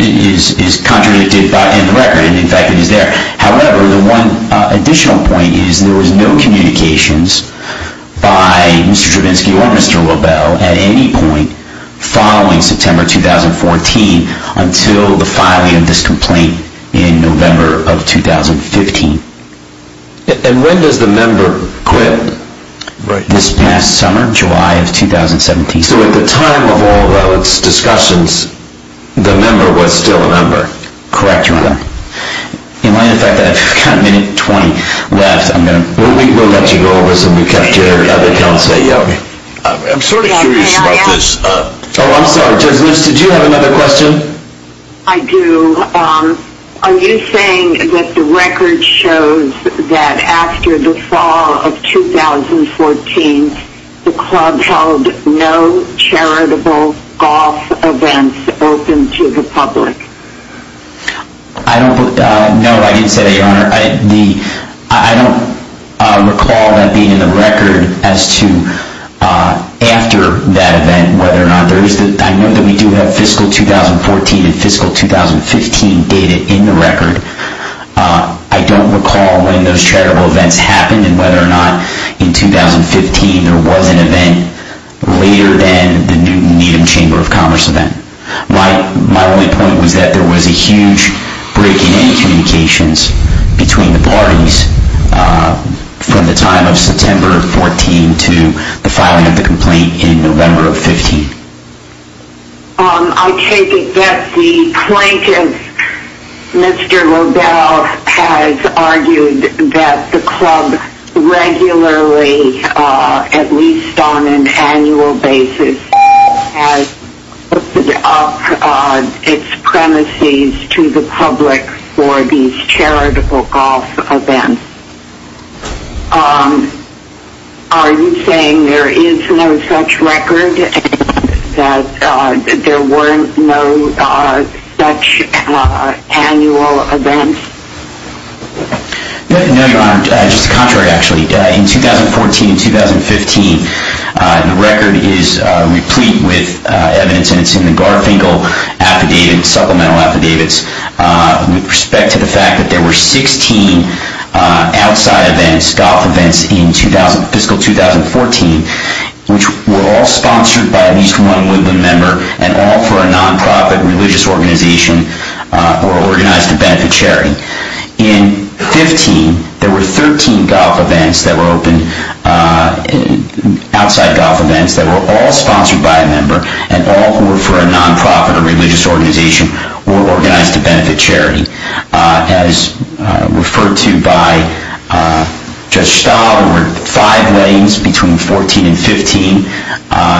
is contradicted in the record. In fact, it is there. However, the one additional point is there was no communications by Mr. Cheburinsky or Mr. Lobel at any point following September 2014 until the filing of this complaint in November of 2015. And when does the member quit? This past summer, July of 2017. So at the time of all those discussions, the member was still a member? Correct, Your Honor. In light of the fact that I've got a minute and 20 left, I'm going to... We'll let you go over this and we'll cut to other counsel. I'm sort of curious about this. Oh, I'm sorry. Judge Lynch, did you have another question? I do. Are you saying that the record shows that after the fall of 2014, the club held no charitable golf events open to the public? No, I didn't say that, Your Honor. I don't recall that being in the record as to after that event whether or not there is... I know that we do have fiscal 2014 and fiscal 2015 data in the record. I don't recall when those charitable events happened and whether or not in 2015 there was an event later than the Newton Needham Chamber of Commerce event. My only point was that there was a huge break in communications between the parties from the time of September 14 to the filing of the complaint in November of 15. I take it that the plaintiff, Mr. Lodell, has argued that the club regularly, at least on an annual basis, has opened up its premises to the public for these charitable golf events. Are you saying there is no such record and that there were no such annual events? No, Your Honor. Just the contrary, actually. In 2014 and 2015, the record is replete with evidence and it's in the Garfinkel supplemental affidavits with respect to the fact that there were 16 outside events, golf events in fiscal 2014, which were all sponsored by at least one Woodland member and all for a non-profit religious organization or organized to benefit charity. In 2015, there were 13 outside golf events that were all sponsored by a member and all for a non-profit or religious organization or organized to benefit charity. As referred to by Judge Stahl, there were five weddings between 2014 and 2015.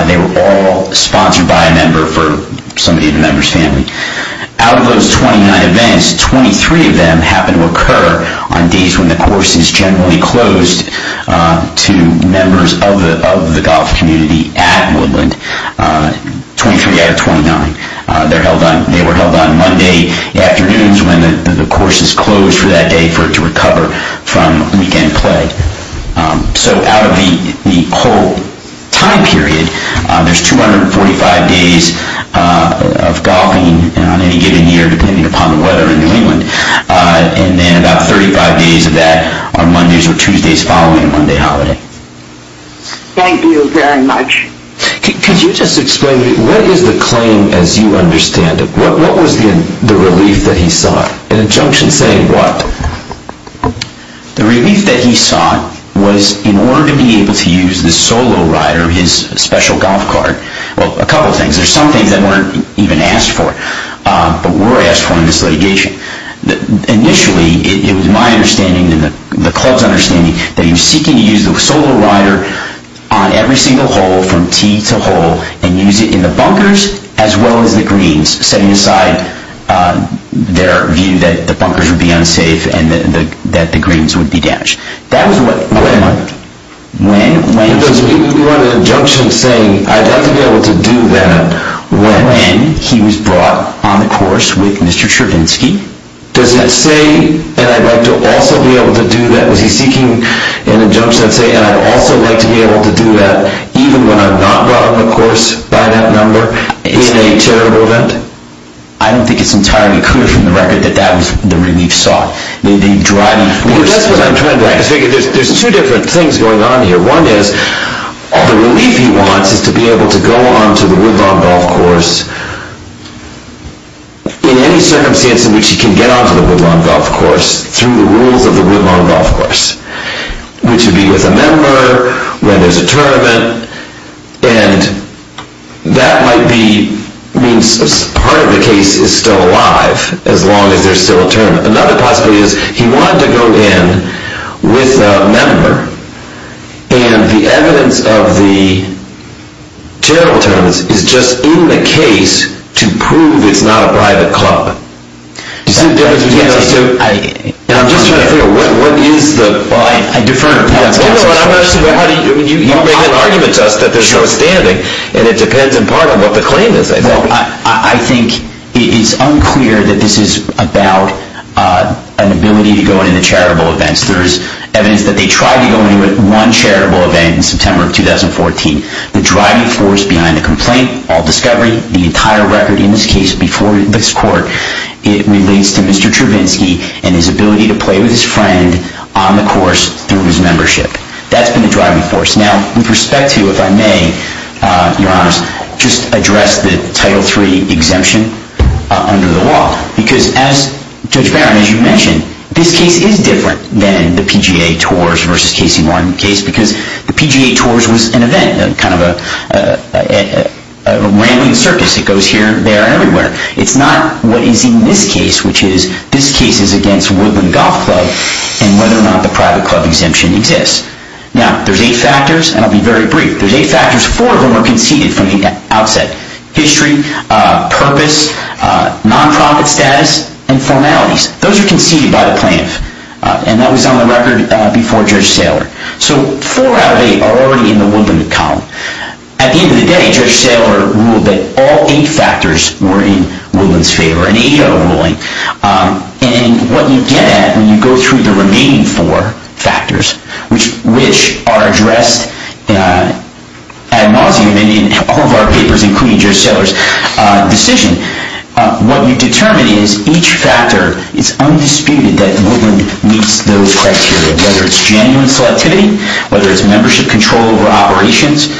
They were all sponsored by a member for somebody in the member's family. Out of those 29 events, 23 of them happened to occur on days when the course is generally closed to members of the golf community at Woodland. 23 out of 29. They were held on Monday afternoons when the course is closed for that day for it to recover from weekend play. So out of the whole time period, there's 245 days of golfing on any given year depending upon the weather in New England and then about 35 days of that on Mondays or Tuesdays following Monday holiday. Thank you very much. Could you just explain, what is the claim as you understand it? What was the relief that he saw? An injunction saying what? The relief that he saw was in order to be able to use the solo rider, his special golf cart. Well, a couple of things. There's some things that weren't even asked for, but were asked for in this litigation. Initially, it was my understanding and the club's understanding that he was seeking to use the solo rider on every single hole from tee to hole and use it in the bunkers as well as the greens, setting aside their view that the bunkers would be unsafe and that the greens would be damaged. That was what... Wait a minute. When? Because we want an injunction saying, I'd like to be able to do that when he was brought on the course with Mr. Chervinsky. Does it say, and I'd like to also be able to do that? Was he seeking an injunction that said, and I'd also like to be able to do that even when I'm not brought on the course by that number in a charitable event? I don't think it's entirely clear from the record that that was the relief sought. That's what I'm trying to ask. There's two different things going on here. One is, the relief he wants is to be able to go on to the Woodlawn Golf Course in any circumstance in which he can get on to the Woodlawn Golf Course through the rules of the Woodlawn Golf Course, which would be with a member, when there's a tournament, and that might mean part of the case is still alive, as long as there's still a tournament. Another possibility is, he wanted to go in with a member, and the evidence of the charitable tournaments is just in the case to prove it's not a private club. Do you see the difference between those two? I'm just trying to figure out, what is the... Well, I defer to Pat's question. You make an argument to us that there's no standing, and it depends in part on what the claim is, I think. I think it's unclear that this is about an ability to go into charitable events. There's evidence that they tried to go into one charitable event in September of 2014. The driving force behind the complaint, all discovery, the entire record in this case before this court, it relates to Mr. Trevinsky and his ability to play with his friend on the course through his membership. That's been the driving force. Now, with respect to, if I may, Your Honor, just address the Title III exemption under the law, because as Judge Barron, as you mentioned, this case is different than the PGA Tours versus Casey Martin case, because the PGA Tours was an event, kind of a rambling circus. It goes here, there, and everywhere. It's not what is in this case, which is this case is against Woodland Golf Club, and whether or not the private club exemption exists. Now, there's eight factors, and I'll be very brief. There's eight factors. Four of them were conceded from the outset. History, purpose, nonprofit status, and formalities. Those are conceded by the plaintiff, and that was on the record before Judge Saylor. So four out of eight are already in the Woodland column. At the end of the day, Judge Saylor ruled that all eight factors were in Woodland's favor, and eight are ruling. And what you get at when you go through the remaining four factors, which are addressed ad nauseam in all of our papers, including Judge Saylor's decision, what you determine is each factor is undisputed that Woodland meets those criteria, whether it's genuine selectivity, whether it's membership control over operations,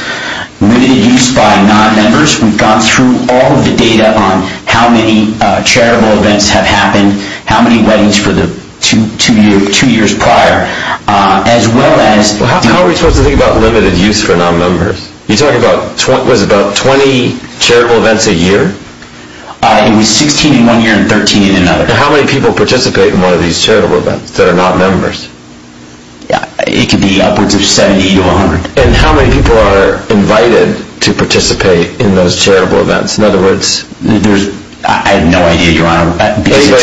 limited use by non-members. We've gone through all of the data on how many charitable events have happened, how many weddings for the two years prior, as well as... How are we supposed to think about limited use for non-members? You're talking about 20 charitable events a year? It was 16 in one year and 13 in another. And how many people participate in one of these charitable events that are not members? It could be upwards of 70 to 100. And how many people are invited to participate in those charitable events? In other words, there's... I have no idea, Your Honor. Is there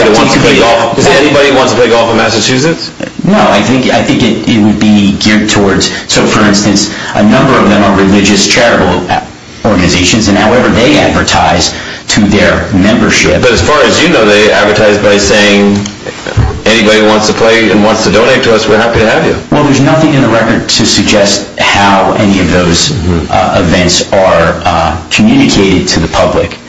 anybody who wants to play golf in Massachusetts? No, I think it would be geared towards... So, for instance, a number of them are religious charitable organizations, and however they advertise to their membership... But as far as you know, they advertise by saying, anybody who wants to play and wants to donate to us, we're happy to have you. Well, there's nothing in the record to suggest how any of those events are communicated to the public.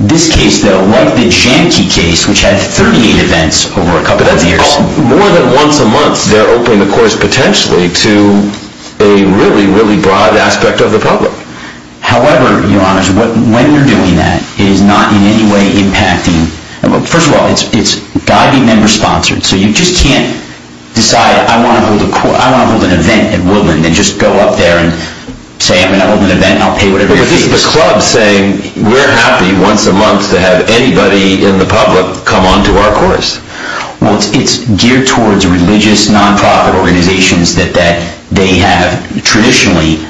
This case, though, like the Janki case, which had 38 events over a couple of years... More than once a month, they're opening the course, potentially, to a really, really broad aspect of the public. However, Your Honor, when you're doing that, it is not in any way impacting... First of all, it's guide and member-sponsored, so you just can't decide, I want to hold an event at Woodland, and just go up there and say, I'm going to hold an event, and I'll pay whatever it is. But this is the club saying, we're happy once a month to have anybody in the public come on to our course. Well, it's geared towards religious non-profit organizations that they have traditionally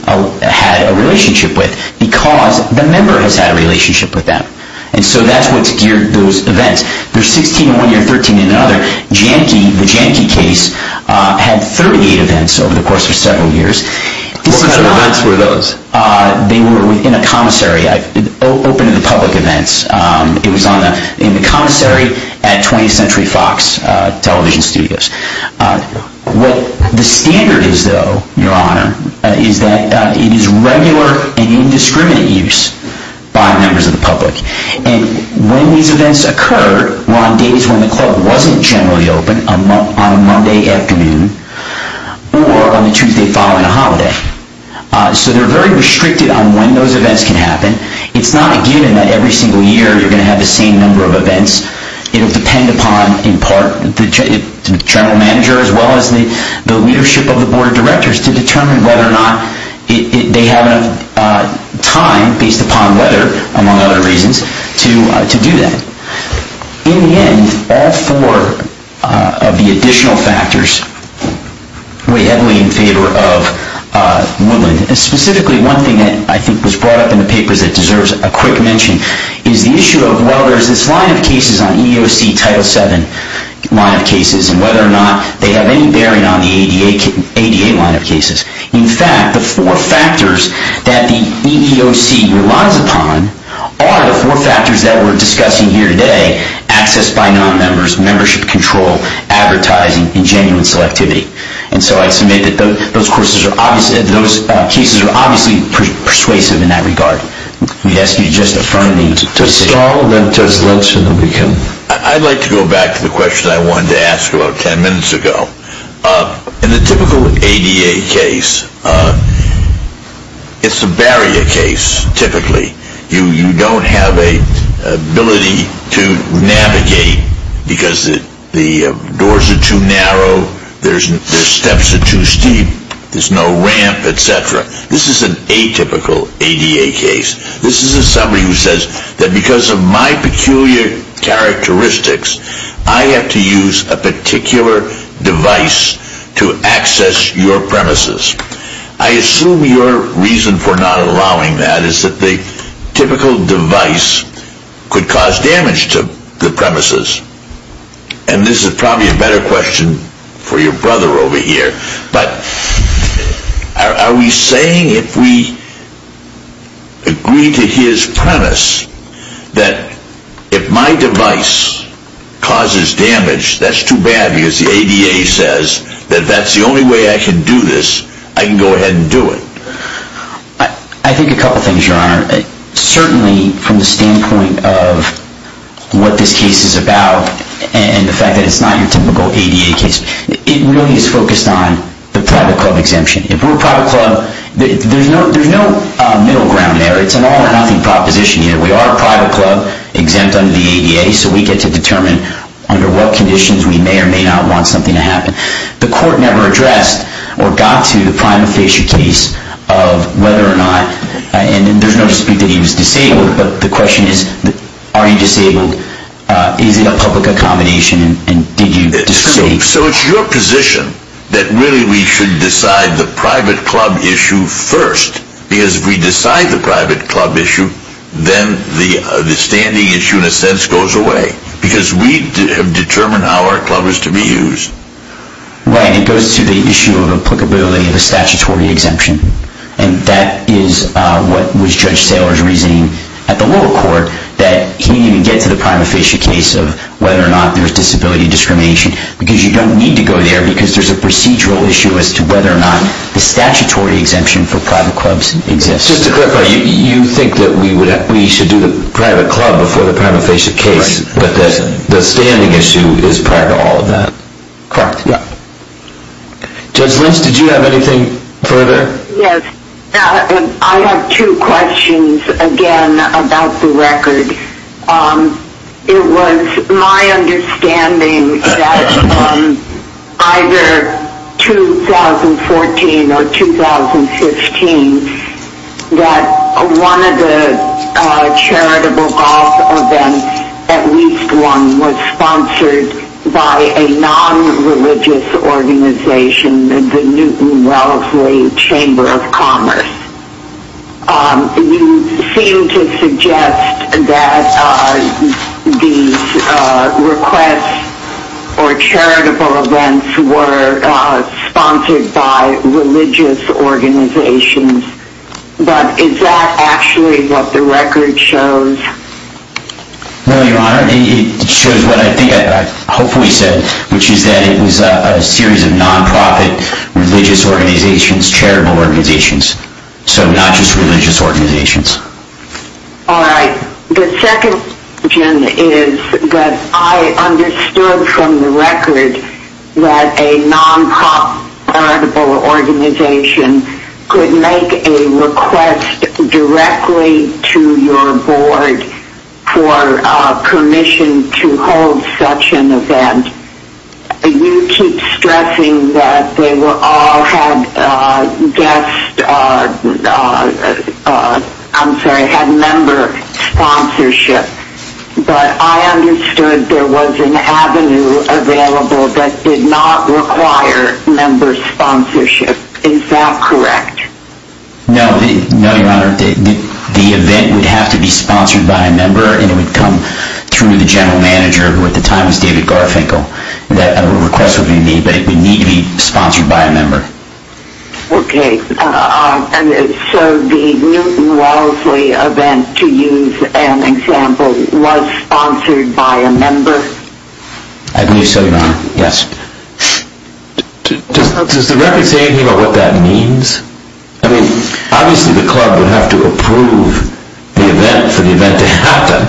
had a relationship with, because the member has had a relationship with them. And so that's what's geared those events. There's 16 in one year, 13 in another. Janki, the Janki case, had 38 events over the course of several years. What kind of events were those? They were in a commissary. Open to the public events. It was in the commissary at 20th Century Fox television studios. What the standard is, though, Your Honor, is that it is regular and indiscriminate use by members of the public. And when these events occur, were on days when the club wasn't generally open, on a Monday afternoon, or on the Tuesday following a holiday. So they're very restricted on when those events can happen. It's not a given that every single year you're going to have the same number of events. It will depend upon, in part, the general manager, as well as the leadership of the board of directors, to determine whether or not they have enough time, based upon weather, among other reasons, to do that. In the end, all four of the additional factors weigh heavily in favor of Woodland. Specifically, one thing that I think was brought up in the papers that deserves a quick mention, is the issue of whether there's this line of cases on EEOC Title VII line of cases, and whether or not they have any bearing on the ADA line of cases. In fact, the four factors that the EEOC relies upon are the four factors that we're discussing here today, access by non-members, membership control, advertising, and genuine selectivity. And so I submit that those cases are obviously persuasive in that regard. Yes, you just affirmed me to say that. I'd like to go back to the question I wanted to ask about ten minutes ago. In the typical ADA case, it's a barrier case, typically. You don't have an ability to navigate because the doors are too narrow, there's steps that are too steep, there's no ramp, etc. This is an atypical ADA case. This is somebody who says that because of my peculiar characteristics, I have to use a particular device to access your premises. I assume your reason for not allowing that is that the typical device could cause damage to the premises. And this is probably a better question for your brother over here. But are we saying if we agree to his premise that if my device causes damage, that's too bad because the ADA says that that's the only way I can do this. I can go ahead and do it. I think a couple things, Your Honor. Certainly from the standpoint of what this case is about and the fact that it's not your typical ADA case, it really is focused on the private club exemption. If we're a private club, there's no middle ground there. It's an all or nothing proposition here. We are a private club exempt under the ADA, so we get to determine under what conditions we may or may not want something to happen. The court never addressed or got to the prima facie case of whether or not, and there's no dispute that he was disabled, but the question is, are you disabled? Is it a public accommodation? So it's your position that really we should decide the private club issue first because if we decide the private club issue, then the standing issue in a sense goes away because we have determined how our club is to be used. Right, it goes to the issue of applicability of a statutory exemption. And that is what was Judge Saylor's reasoning at the lower court that he didn't even get to the prima facie case of whether or not there's disability discrimination because you don't need to go there because there's a procedural issue as to whether or not the statutory exemption for private clubs exists. Just to clarify, you think that we should do the private club before the prima facie case, but the standing issue is part of all of that? Correct, yeah. Judge Lynch, did you have anything further? Yes, I have two questions again about the record. It was my understanding that either 2014 or 2015, that one of the charitable golf events, at least one, was sponsored by a non-religious organization, the Newton Wellesley Chamber of Commerce. You seem to suggest that these requests or charitable events were sponsored by religious organizations, but is that actually what the record shows? Well, Your Honor, it shows what I think I hopefully said, which is that it was a series of non-profit religious organizations, charitable organizations. So not just religious organizations. All right. The second, Jim, is that I understood from the record that a non-profit organization could make a request directly to your board for permission to hold such an event. You keep stressing that they all had member sponsorship, but I understood there was an avenue available that did not require member sponsorship. Is that correct? No, Your Honor. The event would have to be sponsored by a member, and it would come through the general manager, who at the time was David Garfinkel. A request would be made, but it would need to be sponsored by a member. Okay. So the Newton Wellesley event, to use an example, was sponsored by a member? I believe so, Your Honor. Yes. Does the record say anything about what that means? I mean, obviously the club would have to approve the event for the event to happen.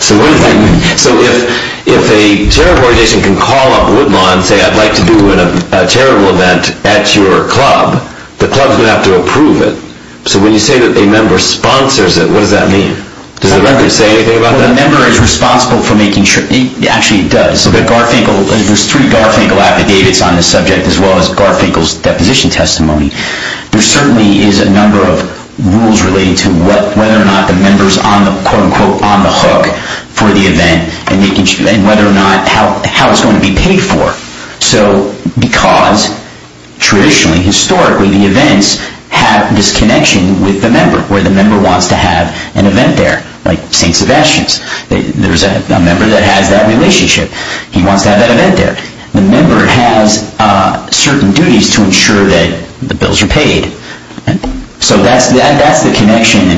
So if a charitable organization can call up Woodlawn and say, I'd like to do a charitable event at your club, the club's going to have to approve it. So when you say that a member sponsors it, what does that mean? Does the record say anything about that? Well, the member is responsible for making sure. Actually, it does. There's three Garfinkel affidavits on this subject, as well as Garfinkel's deposition testimony. There certainly is a number of rules relating to whether or not the member is on the, quote-unquote, So because traditionally, historically, the events have this connection with the member, where the member wants to have an event there, like St. Sebastian's. There's a member that has that relationship. He wants to have that event there. The member has certain duties to ensure that the bills are paid. So that's the connection.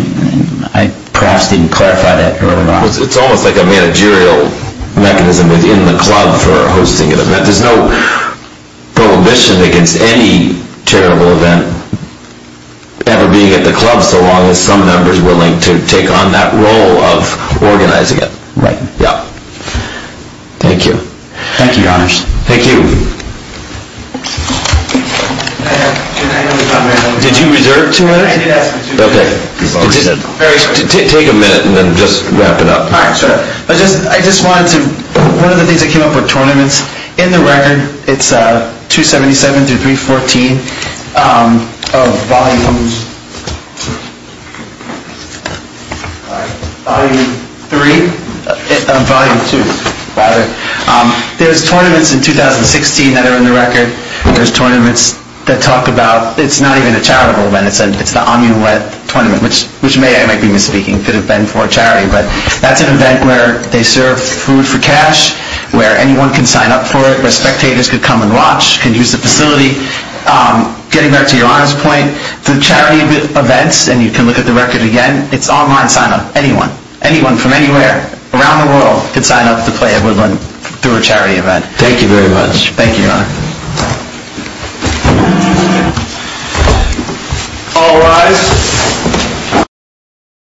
I perhaps didn't clarify that early on. There's no prohibition against any charitable event ever being at the club, so long as some member is willing to take on that role of organizing it. Right. Yeah. Thank you. Thank you, Your Honors. Thank you. Did you reserve two minutes? Yes. Okay. Take a minute and then just wrap it up. I just wanted to, one of the things that came up were tournaments. In the record, it's 277 through 314 of Volume 2. There's tournaments in 2016 that are in the record. There's tournaments that talk about, it's not even a charitable event. It's the Amulet Tournament, which may, I might be misspeaking, could have been for a charity. But that's an event where they serve food for cash, where anyone can sign up for it, where spectators can come and watch, can use the facility. Getting back to Your Honor's point, the charity events, and you can look at the record again, it's online sign-up. Anyone, anyone from anywhere around the world can sign up to play at Woodland through a charity event. Thank you very much. Thank you, Your Honor. All rise.